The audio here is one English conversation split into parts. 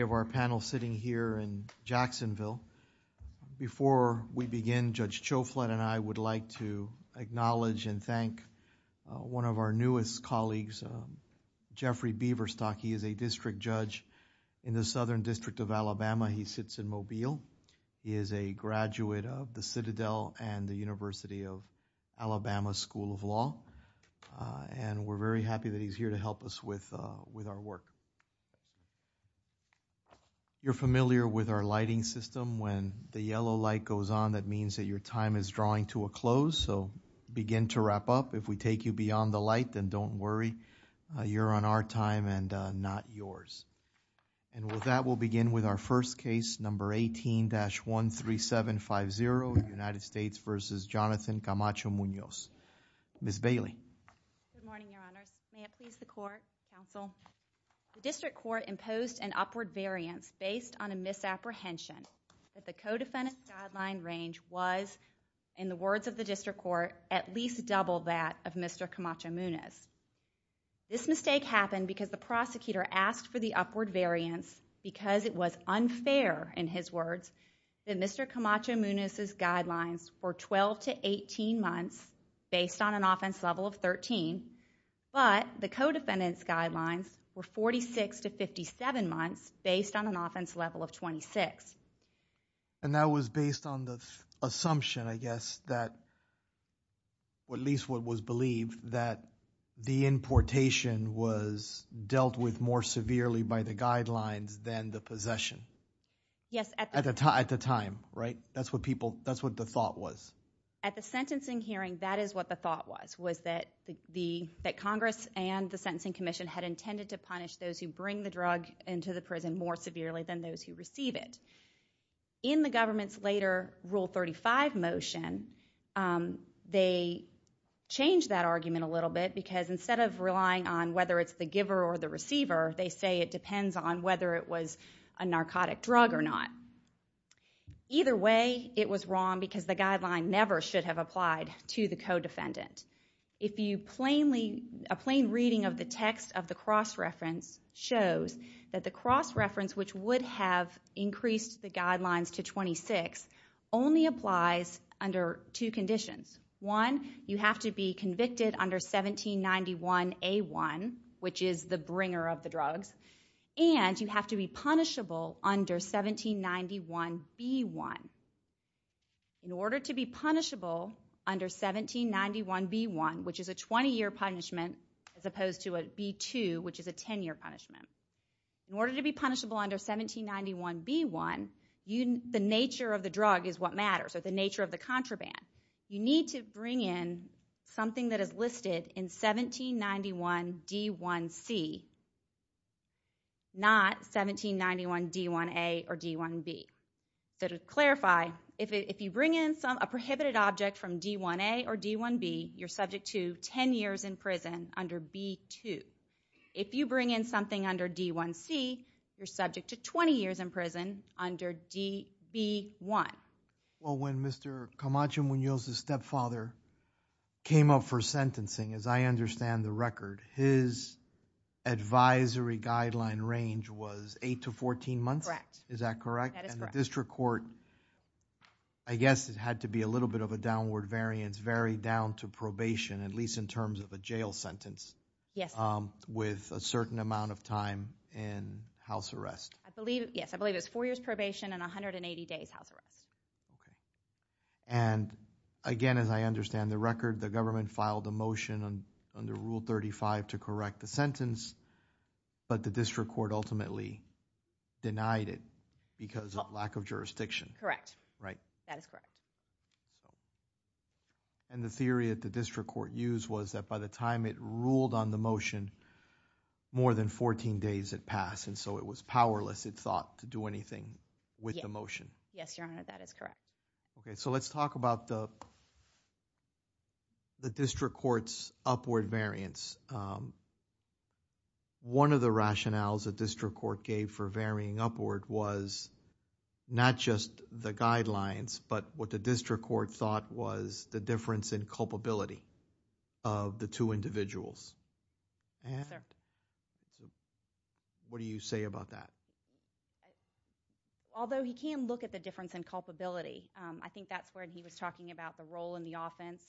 of our panel sitting here in Jacksonville. Before we begin, Judge Choflat and I would like to acknowledge and thank one of our newest colleagues, Jeffrey Beaverstock. He is a district judge in the Southern District of Alabama. He sits in Mobile. He is a graduate of the Citadel and the University of Alabama School of Law. And we're very happy that he's here to help us with our work. You're familiar with our lighting system. When the yellow light goes on, that means that your time is drawing to a close. So begin to wrap up. If we take you beyond the light, then don't worry. You're on our time and not yours. And with that, we'll begin with our first case, number 18-13750, United States v. Jonathan Camacho-Munoz. Ms. Bailey. Good morning, Your Honors. May it please the court, counsel. The district court imposed an upward variance based on a misapprehension that the co-defendant's guideline range was, in the words of the district court, at least double that of Mr. Camacho-Munoz. This mistake happened because the prosecutor asked for the upward variance because it was based on an offense level of 13, but the co-defendant's guidelines were 46 to 57 months based on an offense level of 26. And that was based on the assumption, I guess, that or at least what was believed, that the importation was dealt with more severely by the guidelines than the possession. Yes. At the time, right? That's what people, that's what the thought was. At the sentencing hearing, that is what the thought was, was that the, that Congress and the Sentencing Commission had intended to punish those who bring the drug into the prison more severely than those who receive it. In the government's later Rule 35 motion, they changed that argument a little bit because instead of relying on whether it's the giver or the receiver, they say it depends on whether it was a narcotic drug or not. Either way, I think it was wrong because the guideline never should have applied to the co-defendant. If you plainly, a plain reading of the text of the cross-reference shows that the cross-reference, which would have increased the guidelines to 26, only applies under two conditions. One, you have to be convicted under 1791A1, which is the bringer of the drugs, and you In order to be punishable under 1791B1, which is a 20-year punishment, as opposed to a B2, which is a 10-year punishment. In order to be punishable under 1791B1, the nature of the drug is what matters, or the nature of the contraband. You need to bring in something that is listed in 1791D1C, not 1791D1A or D1B. So to clarify, if you bring in a prohibited object from D1A or D1B, you're subject to 10 years in prison under B2. If you bring in something under D1C, you're subject to 20 years in prison under DB1. Well, when Mr. Camacho Munoz's stepfather came up for sentencing, as I understand the record, his advisory guideline range was 8 to 14 months? Correct. Is that correct? That is correct. And the district court, I guess it had to be a little bit of a downward variance, varied down to probation, at least in terms of a jail sentence, with a certain amount of time in house arrest. I believe, yes, I believe it was 4 years probation and 180 days house arrest. And again, as I understand the record, the government filed a motion under Rule 35 to correct the sentence, but the district court ultimately denied it because of lack of jurisdiction. Correct. Right. That is correct. And the theory that the district court used was that by the time it ruled on the motion, more than 14 days had passed, and so it was powerless, it thought, to do anything with the motion. Yes, Your Honor, that is correct. So let's talk about the district court's upward variance. One of the rationales the district court gave for varying upward was not just the guidelines, but what the district court thought was the difference in culpability of the two individuals. Yes, sir. So what do you say about that? Although he can look at the difference in culpability, I think that's where he was talking about the role in the offense,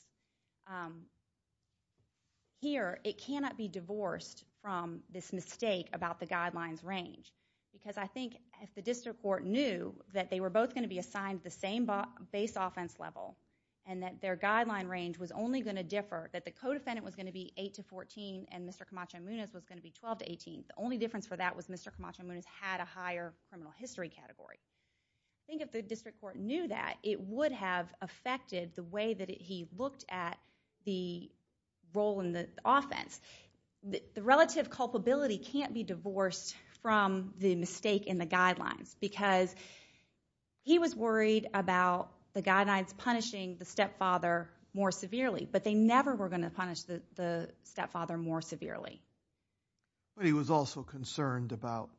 here it cannot be divorced from this mistake about the guidelines range because I think if the district court knew that they were both going to be assigned the same base offense level and that their guideline range was only going to differ, that the co-defendant was going to be 8 to 14 and Mr. Camacho-Muñez was going to be 12 to 18, the only difference for that was Mr. Camacho-Muñez had a higher criminal history category. I think if the district court knew that, it would have affected the way that he looked at the role in the offense. The relative culpability can't be divorced from the mistake in the guidelines because he was worried about the guidelines punishing the stepfather more severely, but they never were going to punish the stepfather more severely. But he was also concerned about,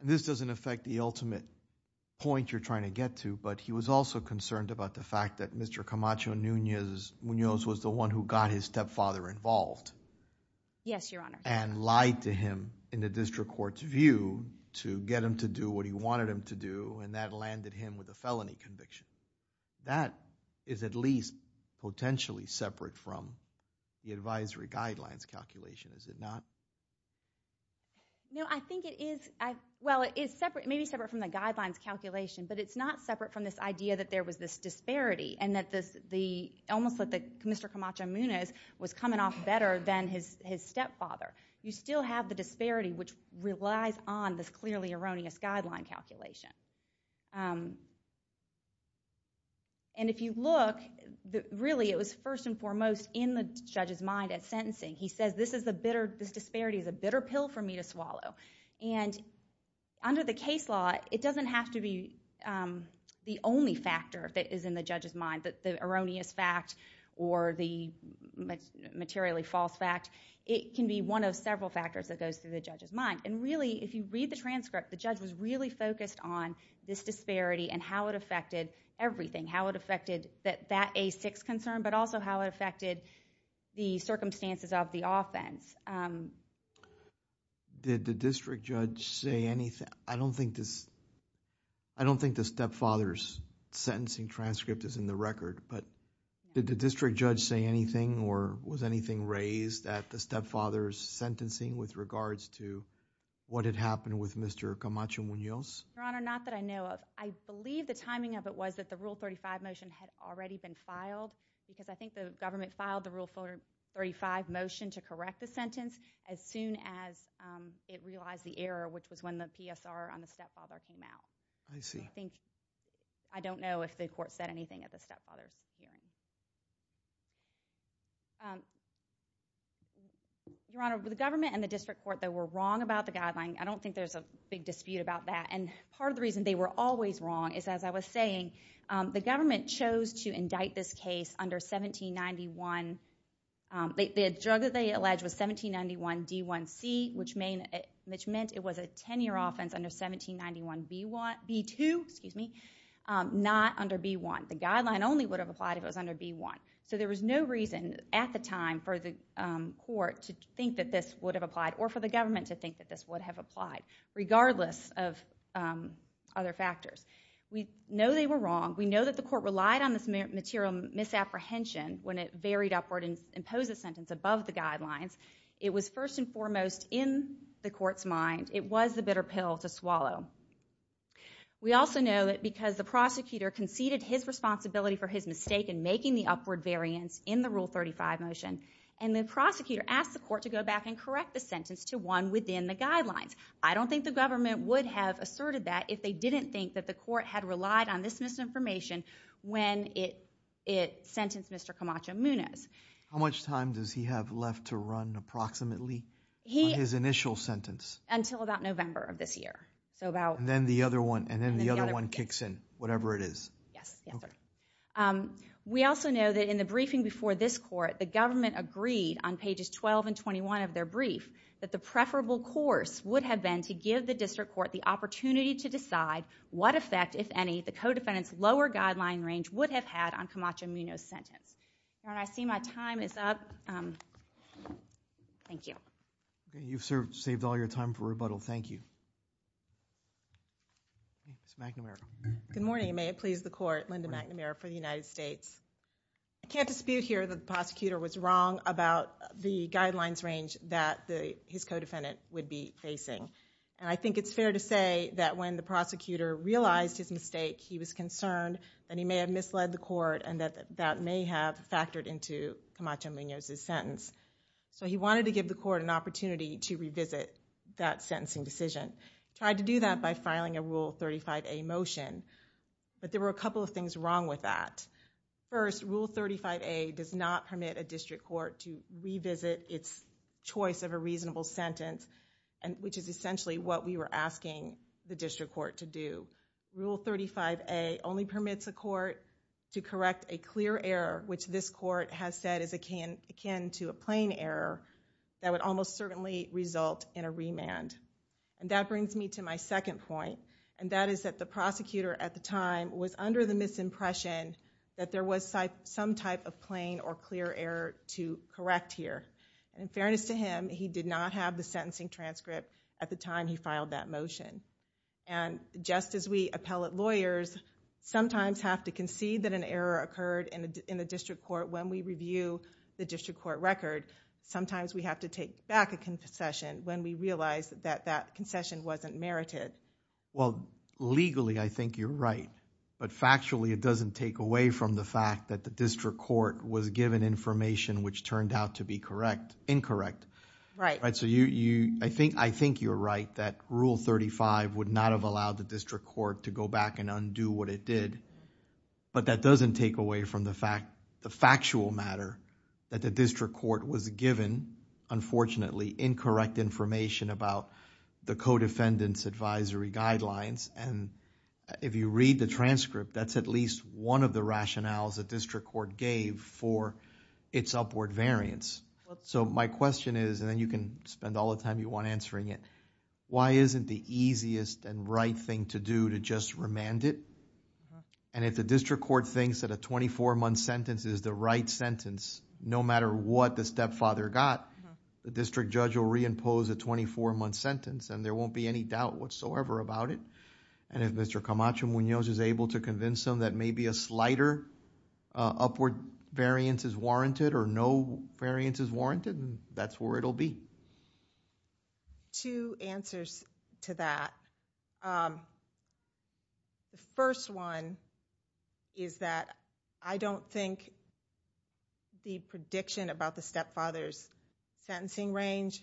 and this doesn't affect the ultimate point you're trying to get to, but he was also concerned about the fact that Mr. Camacho-Muñez was the one who got his stepfather involved. Yes, your honor. And lied to him in the district court's view to get him to do what he wanted him to do and that landed him with a felony conviction. That is at least potentially separate from the advisory guidelines calculation, is it not? No, I think it is, well it is separate, maybe separate from the guidelines calculation, but it's not separate from this idea that there was this disparity and that this, almost that Mr. Camacho-Muñez was coming off better than his stepfather. You still have the disparity which relies on this clearly erroneous guideline calculation. And if you look, really it was first and foremost in the judge's mind at sentencing. He says this disparity is a bitter pill for me to swallow. And under the case law, it doesn't have to be the only factor that is in the judge's mind, the erroneous fact or the materially false fact. It can be one of several factors that goes through the judge's mind. And really, if you read the transcript, the judge was really focused on this disparity and how it affected everything. How it affected that A6 concern, but also how it affected the circumstances of the offense. Did the district judge say anything? I don't think the stepfather's sentencing transcript is in the record, but did the district judge say anything or was anything raised at the stepfather's sentencing with regards to what had happened with Mr. Camacho-Muñez? Your Honor, not that I know of. I believe the timing of it was that the Rule 35 motion had already been filed because I think the government filed the Rule 35 motion to correct the sentence as soon as it realized the error, which was when the PSR on the stepfather came out. I don't know if the court said anything at the stepfather's hearing. Your Honor, the government and the district court, they were wrong about the guideline. I don't think there's a big dispute about that. And part of the reason they were always wrong is, as I was saying, the government chose to indict this case under 1791, the drug that they alleged was 1791 D1C, which meant it was a 10-year offense under 1791 B2, not under B1. The guideline only would have applied if it was under B1. So there was no reason at the time for the court to think that this would have applied or for the government to think that this would have applied, regardless of other factors. We know they were wrong. We know that the court relied on this material misapprehension when it varied upward and imposed the sentence above the guidelines. It was first and foremost in the court's mind. It was the bitter pill to swallow. We also know that because the prosecutor conceded his responsibility for his mistake in making the upward variance in the Rule 35 motion, and the prosecutor asked the court to go back and correct the sentence to one within the guidelines. I don't think the government would have asserted that if they didn't think that the court had misinformation when it sentenced Mr. Camacho-Munoz. How much time does he have left to run, approximately, on his initial sentence? Until about November of this year. So about... And then the other one kicks in, whatever it is. Yes. Yes, sir. We also know that in the briefing before this court, the government agreed on pages 12 and 21 of their brief that the preferable course would have been to give the district court the opportunity to decide what effect, if any, the co-defendant's lower guideline range would have had on Camacho-Munoz's sentence. I see my time is up. Thank you. Okay. You've saved all your time for rebuttal. Thank you. Ms. McNamara. Good morning. May it please the court. Linda McNamara for the United States. I can't dispute here that the prosecutor was wrong about the guidelines range that his co-defendant would be facing. And I think it's fair to say that when the prosecutor realized his mistake, he was concerned that he may have misled the court and that that may have factored into Camacho-Munoz's sentence. So he wanted to give the court an opportunity to revisit that sentencing decision. Tried to do that by filing a Rule 35A motion. But there were a couple of things wrong with that. First, Rule 35A does not permit a district court to revisit its choice of a reasonable sentence, which is essentially what we were asking the district court to do. Rule 35A only permits a court to correct a clear error, which this court has said is akin to a plain error that would almost certainly result in a remand. And that brings me to my second point, and that is that the prosecutor at the time was under the misimpression that there was some type of plain or clear error to correct here. And in fairness to him, he did not have the sentencing transcript at the time he filed that motion. And just as we appellate lawyers sometimes have to concede that an error occurred in the district court when we review the district court record, sometimes we have to take back a concession when we realize that that concession wasn't merited. Well, legally I think you're right. But factually it doesn't take away from the fact that the district court was given information which turned out to be correct, incorrect. Right. So you, I think you're right that Rule 35 would not have allowed the district court to go back and undo what it did. But that doesn't take away from the fact, the factual matter that the district court was given, unfortunately, incorrect information about the co-defendant's advisory guidelines. And if you read the transcript, that's at least one of the rationales the district court gave for its upward variance. So my question is, and then you can spend all the time you want answering it, why isn't the easiest and right thing to do to just remand it? And if the district court thinks that a 24-month sentence is the right sentence, no matter what the stepfather got, the district judge will reimpose a 24-month sentence and there won't be any doubt whatsoever about it. And if Mr. Camacho Munoz is able to convince them that maybe a slighter upward variance is warranted or no variance is warranted, that's where it'll be. Two answers to that. The first one is that I don't think the prediction about the stepfather's sentencing range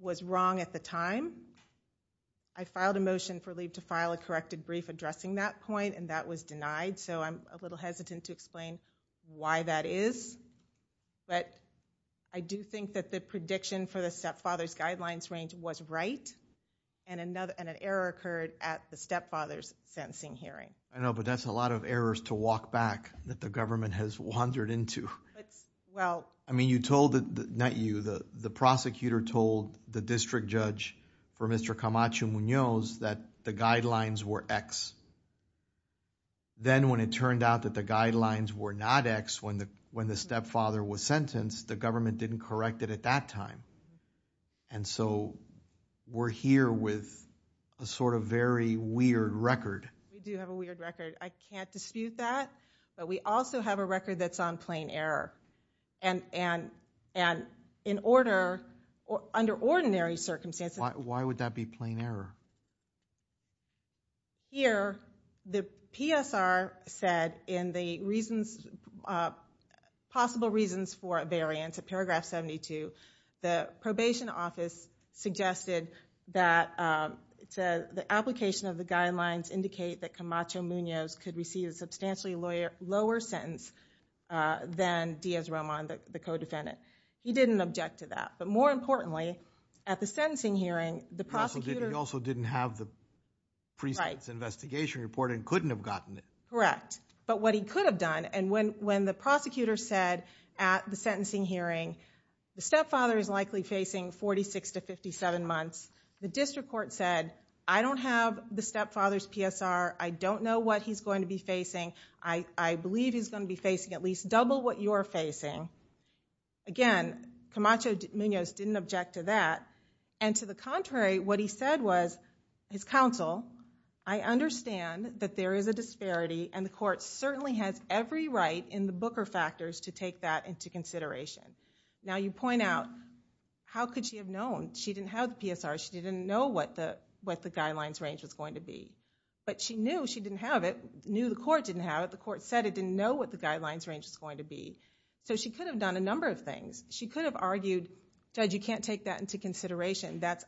was wrong at the time. I filed a motion for leave to file a corrected brief addressing that point and that was denied. So I'm a little hesitant to explain why that is. But I do think that the prediction for the stepfather's guidelines range was right and an error occurred at the stepfather's sentencing hearing. I know, but that's a lot of errors to walk back that the government has wandered into. I mean you told, not you, the prosecutor told the district judge for Mr. Camacho Munoz that the guidelines were X. Then when it turned out that the guidelines were not X when the stepfather was sentenced, the government didn't correct it at that time. And so we're here with a sort of very weird record. We do have a weird record. I can't dispute that, but we also have a record that's on plain error. And in order, under ordinary circumstances. Why would that be plain error? Here, the PSR said in the reasons, possible reasons for a variance in paragraph 72, the Munoz could receive a substantially lower sentence than Diaz-Roma and the co-defendant. He didn't object to that. But more importantly, at the sentencing hearing, the prosecutor. He also didn't have the priest's investigation report and couldn't have gotten it. Correct. But what he could have done, and when the prosecutor said at the sentencing hearing, the stepfather is likely facing 46 to 57 months, the district court said, I don't have the PSR's going to be facing. I believe he's going to be facing at least double what you're facing. Again, Camacho-Munoz didn't object to that. And to the contrary, what he said was, his counsel, I understand that there is a disparity and the court certainly has every right in the Booker factors to take that into consideration. Now you point out, how could she have known? She didn't have the PSR. She didn't know what the guidelines range was going to be. But she knew she didn't have it, knew the court didn't have it. The court said it didn't know what the guidelines range was going to be. So she could have done a number of things. She could have argued, judge, you can't take that into consideration. That's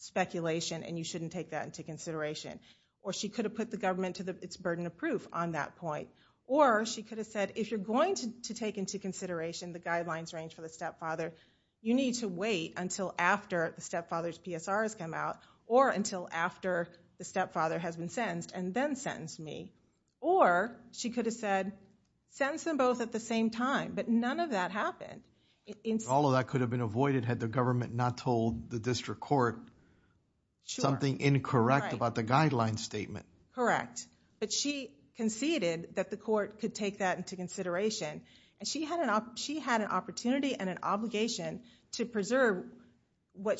speculation and you shouldn't take that into consideration. Or she could have put the government to its burden of proof on that point. Or she could have said, if you're going to take into consideration the guidelines range for the stepfather, you need to wait until after the stepfather's PSR has come out or until after the stepfather has been sentenced and then sentenced me. Or she could have said, sentence them both at the same time. But none of that happened. All of that could have been avoided had the government not told the district court something incorrect about the guidelines statement. Correct. But she conceded that the court could take that into consideration. And she had an opportunity and an obligation to preserve what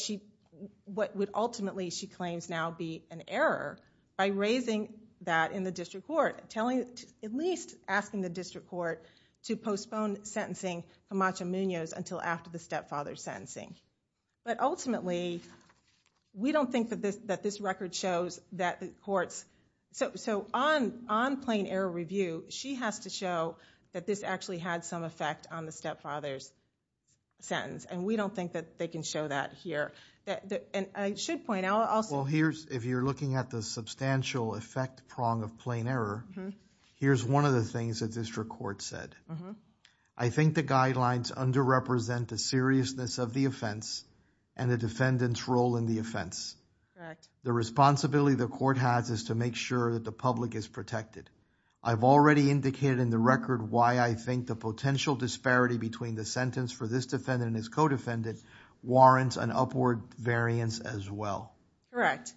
would ultimately, she claims now, be an error by raising that in the district court, at least asking the district court to postpone sentencing Camacho-Munoz until after the stepfather's sentencing. But ultimately, we don't think that this record shows that the courts. So on plain error review, she has to show that this actually had some effect on the stepfather's sentence. And we don't think that they can show that here. And I should point out also. Well, if you're looking at the substantial effect prong of plain error, here's one of the things that district court said. I think the guidelines underrepresent the seriousness of the offense and the defendant's role in the offense. Correct. The responsibility the court has is to make sure that the public is protected. I've already indicated in the record why I think the potential disparity between the sentence for this defendant and his co-defendant warrants an upward variance as well. Correct.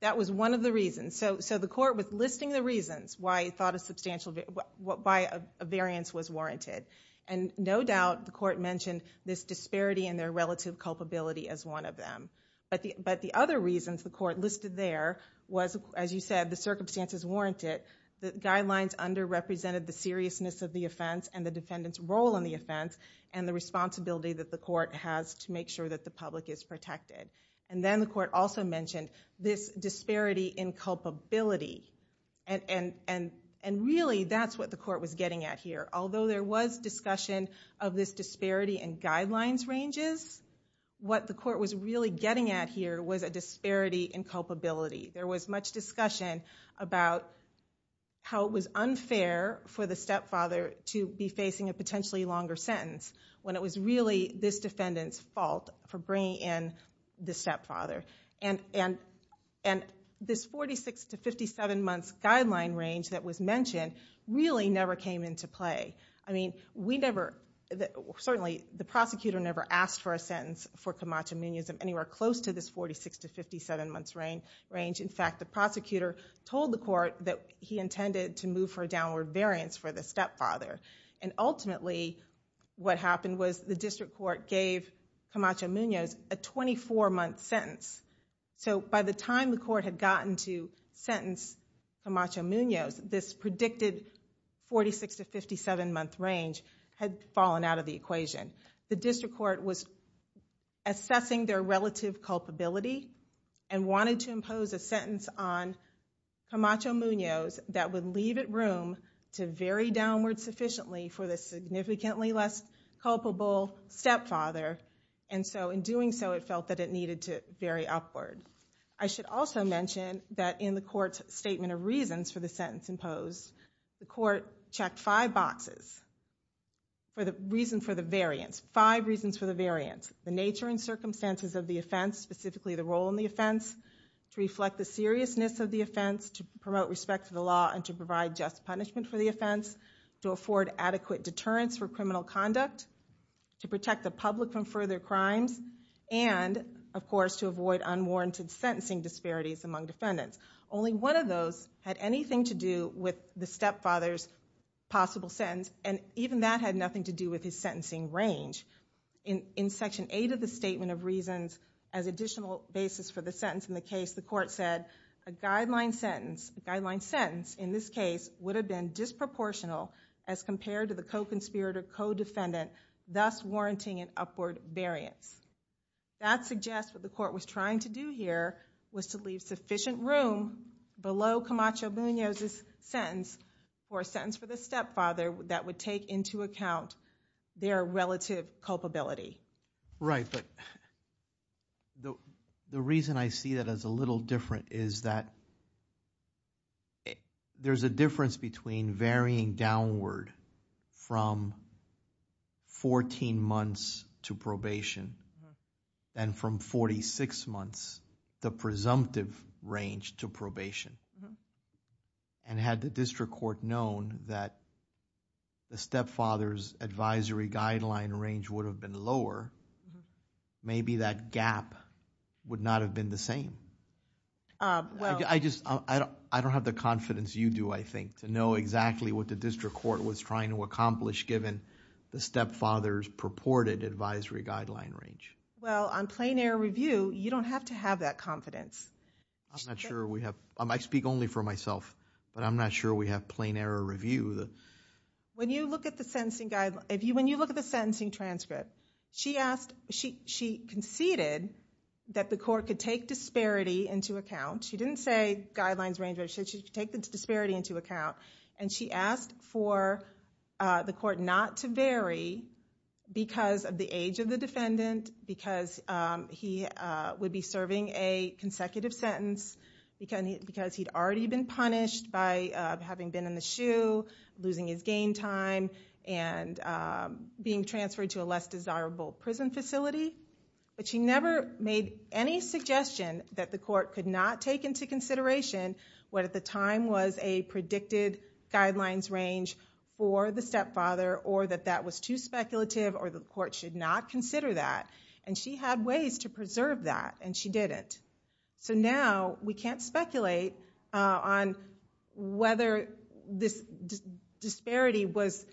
That was one of the reasons. So the court was listing the reasons why a variance was warranted. And no doubt, the court mentioned this disparity in their relative culpability as one of them. But the other reasons the court listed there was, as you said, the circumstances warranted. The guidelines underrepresented the seriousness of the offense and the defendant's role in the offense and the responsibility that the court has to make sure that the public is protected. And then the court also mentioned this disparity in culpability. And really, that's what the court was getting at here. Although there was discussion of this disparity in guidelines ranges, what the court was really getting at here was a disparity in culpability. There was much discussion about how it was unfair for the stepfather to be facing a potentially longer sentence when it was really this defendant's fault for bringing in the stepfather. And this 46 to 57 months guideline range that was mentioned really never came into play. I mean, we never, certainly the prosecutor never asked for a sentence for Camacho Munism anywhere close to this 46 to 57 months range. In fact, the prosecutor told the court that he intended to move for a downward variance for the stepfather. And ultimately, what happened was the district court gave Camacho Munoz a 24-month sentence. So by the time the court had gotten to sentence Camacho Munoz, this predicted 46 to 57-month range had fallen out of the equation. The district court was assessing their relative culpability and wanted to impose a sentence on Camacho Munoz that would leave it room to vary downward sufficiently for the significantly less culpable stepfather. And so in doing so, it felt that it needed to vary upward. I should also mention that in the court's statement of reasons for the sentence imposed, the court checked five boxes for the reason for the variance, five reasons for the variance. The nature and circumstances of the offense, specifically the role in the offense, to reflect the seriousness of the offense, to promote respect to the law and to provide just punishment for the offense, to afford adequate deterrence for criminal conduct, to protect the public from further crimes, and of course, to avoid unwarranted sentencing disparities among defendants. Only one of those had anything to do with the stepfather's possible sentence, and even that had nothing to do with his sentencing range. In section 8 of the statement of reasons as additional basis for the sentence in the case, the court said a guideline sentence in this case would have been disproportional as compared to the co-conspirator, co-defendant, thus warranting an upward variance. That suggests what the court was trying to do here was to leave sufficient room below Camacho-Buñoz's sentence for a sentence for the stepfather that would take into account their relative culpability. Right, but the reason I see that as a little different is that there's a difference between varying downward from 14 months to probation and from 46 months, the presumptive range to probation. And had the district court known that the stepfather's advisory guideline range would have been lower, maybe that gap would not have been the same. I just, I don't have the confidence you do, I think, to know exactly what the district court was trying to accomplish given the stepfather's purported advisory guideline range. Well, on plain error review, you don't have to have that confidence. I'm not sure we have, I speak only for myself, but I'm not sure we have plain error review. When you look at the sentencing guideline, when you look at the sentencing transcript, she asked, she conceded that the court could take disparity into account. She didn't say guidelines range, but she said she could take the disparity into account. And she asked for the court not to vary because of the age of the defendant, because he would be serving a consecutive sentence, because he'd already been punished by having been in the shoe, losing his gain time, and being transferred to a less desirable prison facility. But she never made any suggestion that the court could not take into consideration what at the time was a predicted guidelines range for the stepfather or that that was too speculative or the court should not consider that. And she had ways to preserve that, and she didn't. So now we can't speculate on whether this disparity was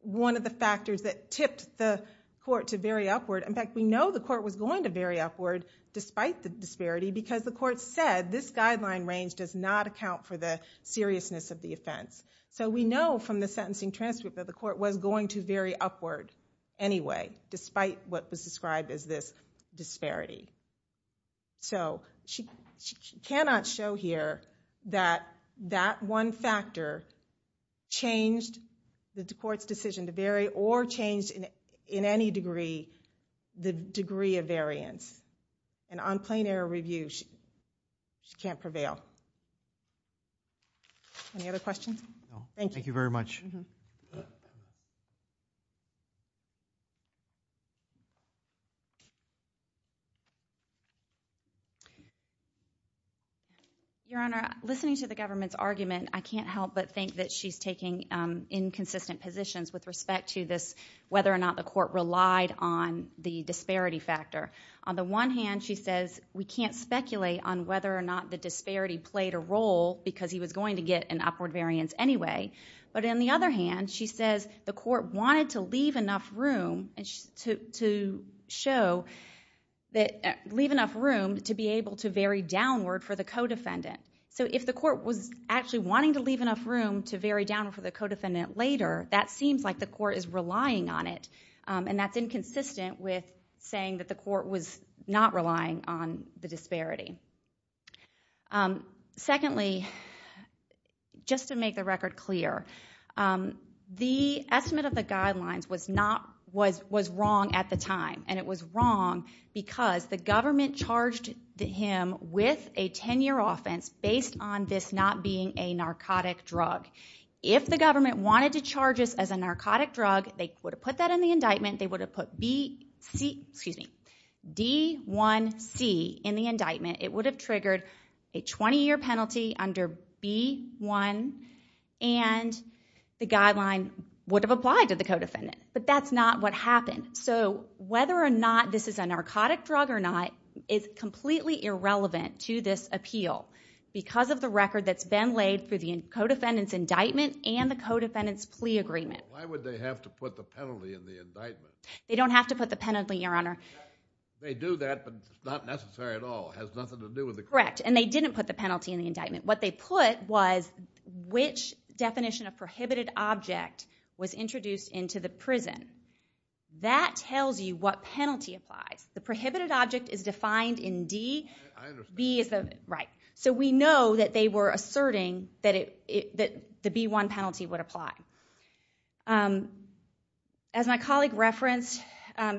one of the factors that tipped the court to vary upward. In fact, we know the court was going to vary upward despite the disparity because the court said this guideline range does not account for the seriousness of the offense. So we know from the sentencing transcript that the court was going to vary upward anyway, despite what was described as this disparity. So she cannot show here that that one factor changed the court's decision to vary or changed in any degree the degree of variance. And on plain error review, she can't prevail. Any other questions? Thank you. Thank you very much. Your Honor, listening to the government's argument, I can't help but think that she's taking inconsistent positions with respect to this, whether or not the court relied on the disparity factor. On the one hand, she says we can't speculate on whether or not the disparity played a role because he was going to get an upward variance anyway. But on the other hand, she says the court wanted to leave enough room to show that to be able to vary downward for the co-defendant. So if the court was actually wanting to leave enough room to vary downward for the co-defendant later, that seems like the court is relying on it. And that's inconsistent with saying that the court was not relying on the disparity. Secondly, just to make the record clear, the estimate of the guidelines was wrong at the time. The government charged him with a 10-year offense based on this not being a narcotic drug. If the government wanted to charge us as a narcotic drug, they would have put that in the indictment. They would have put D1C in the indictment. It would have triggered a 20-year penalty under B1, and the guideline would have applied to the co-defendant. But that's not what happened. So whether or not this is a narcotic drug or not is completely irrelevant to this appeal because of the record that's been laid for the co-defendant's indictment and the co-defendant's plea agreement. Why would they have to put the penalty in the indictment? They don't have to put the penalty, Your Honor. They do that, but it's not necessary at all. It has nothing to do with the court. Correct. And they didn't put the penalty in the indictment. What they put was which definition of prohibited object was introduced into the prison. That tells you what penalty applies. The prohibited object is defined in D. I understand. Right. So we know that they were asserting that the B1 penalty would apply. As my colleague referenced,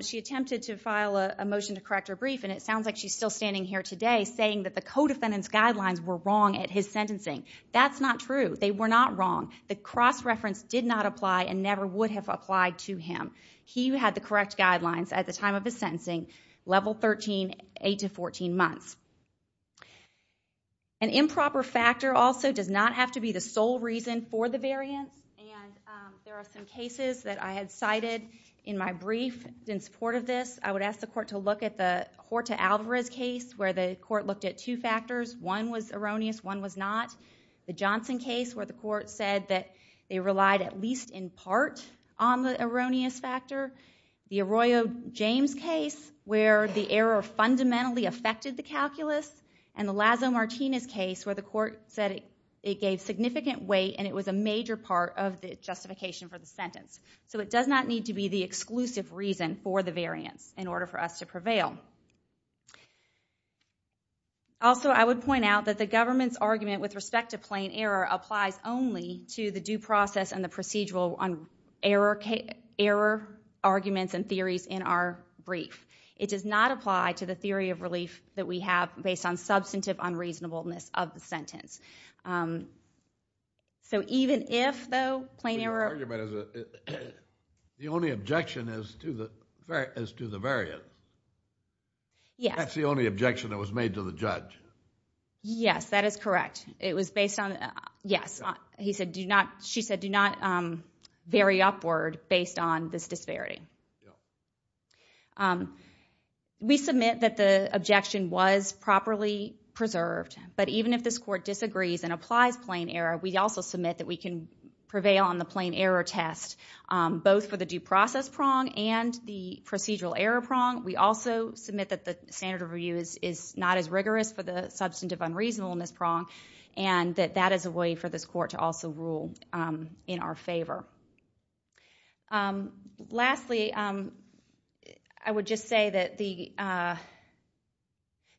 she attempted to file a motion to correct her brief, and it sounds like she's still standing here today saying that the co-defendant's guidelines were wrong at his sentencing. That's not true. They were not wrong. The cross-reference did not apply and never would have applied to him. He had the correct guidelines at the time of his sentencing, level 13, 8 to 14 months. An improper factor also does not have to be the sole reason for the variance, and there are some cases that I had cited in my brief in support of this. I would ask the court to look at the Horta-Alvarez case where the court looked at two factors. One was erroneous. One was not. The Johnson case where the court said that they relied at least in part on the erroneous factor. The Arroyo-James case where the error fundamentally affected the calculus. And the Lazo-Martinez case where the court said it gave significant weight and it was a major part of the justification for the sentence. So it does not need to be the exclusive reason for the variance in order for us to prevail. Also, I would point out that the government's argument with respect to plain error applies only to the due process and the procedural error arguments and theories in our brief. It does not apply to the theory of relief that we have based on substantive unreasonableness of the sentence. So even if, though, plain error… The only objection is to the variance. Yes. That's the only objection that was made to the judge. Yes, that is correct. It was based on… Yes. He said do not… She said do not vary upward based on this disparity. Yeah. We submit that the objection was properly preserved. But even if this court disagrees and applies plain error, we also submit that we can prevail on the plain error test, both for the due process prong and the procedural error prong. We also submit that the standard of review is not as rigorous for the substantive unreasonableness prong and that that is a way for this court to also rule in our favor. Lastly, I would just say that the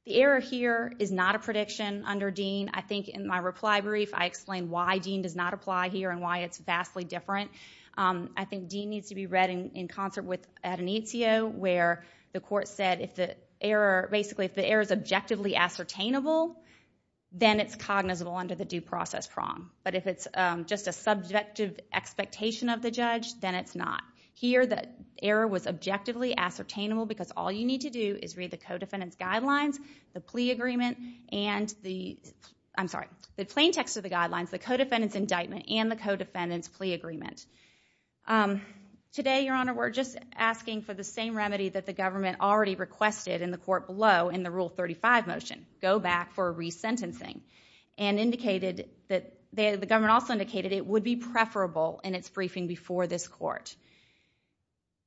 error here is not a prediction under Dean. I think in my reply brief, I explained why Dean does not apply here and why it's vastly different. I think Dean needs to be read in concert with Adonizio, where the court said if the error… Basically, if the error is objectively ascertainable, then it's cognizable under the due process prong. But if it's just a subjective expectation of the judge, then it's not. Here, the error was objectively ascertainable because all you need to do is read the codefendant's I'm sorry, the plain text of the guidelines, the codefendant's indictment, and the codefendant's plea agreement. Today, Your Honor, we're just asking for the same remedy that the government already requested in the court below in the Rule 35 motion, go back for resentencing, and indicated that… The government also indicated it would be preferable in its briefing before this court.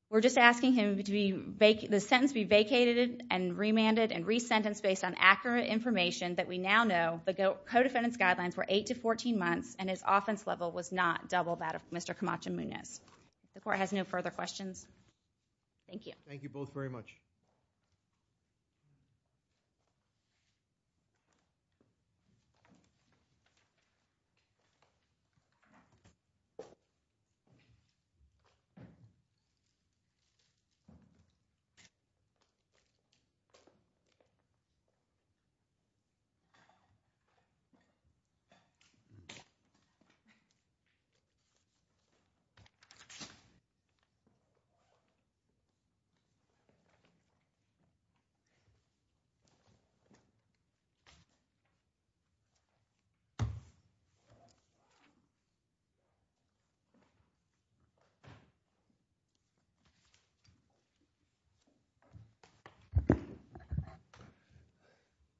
We're just asking him to make the sentence be vacated and remanded and resentenced based on accurate information that we now know the codefendant's guidelines were 8 to 14 months and his offense level was not double that of Mr. Camacho-Munoz. The court has no further questions. Thank you. Thank you both very much. Thank you. Thank you.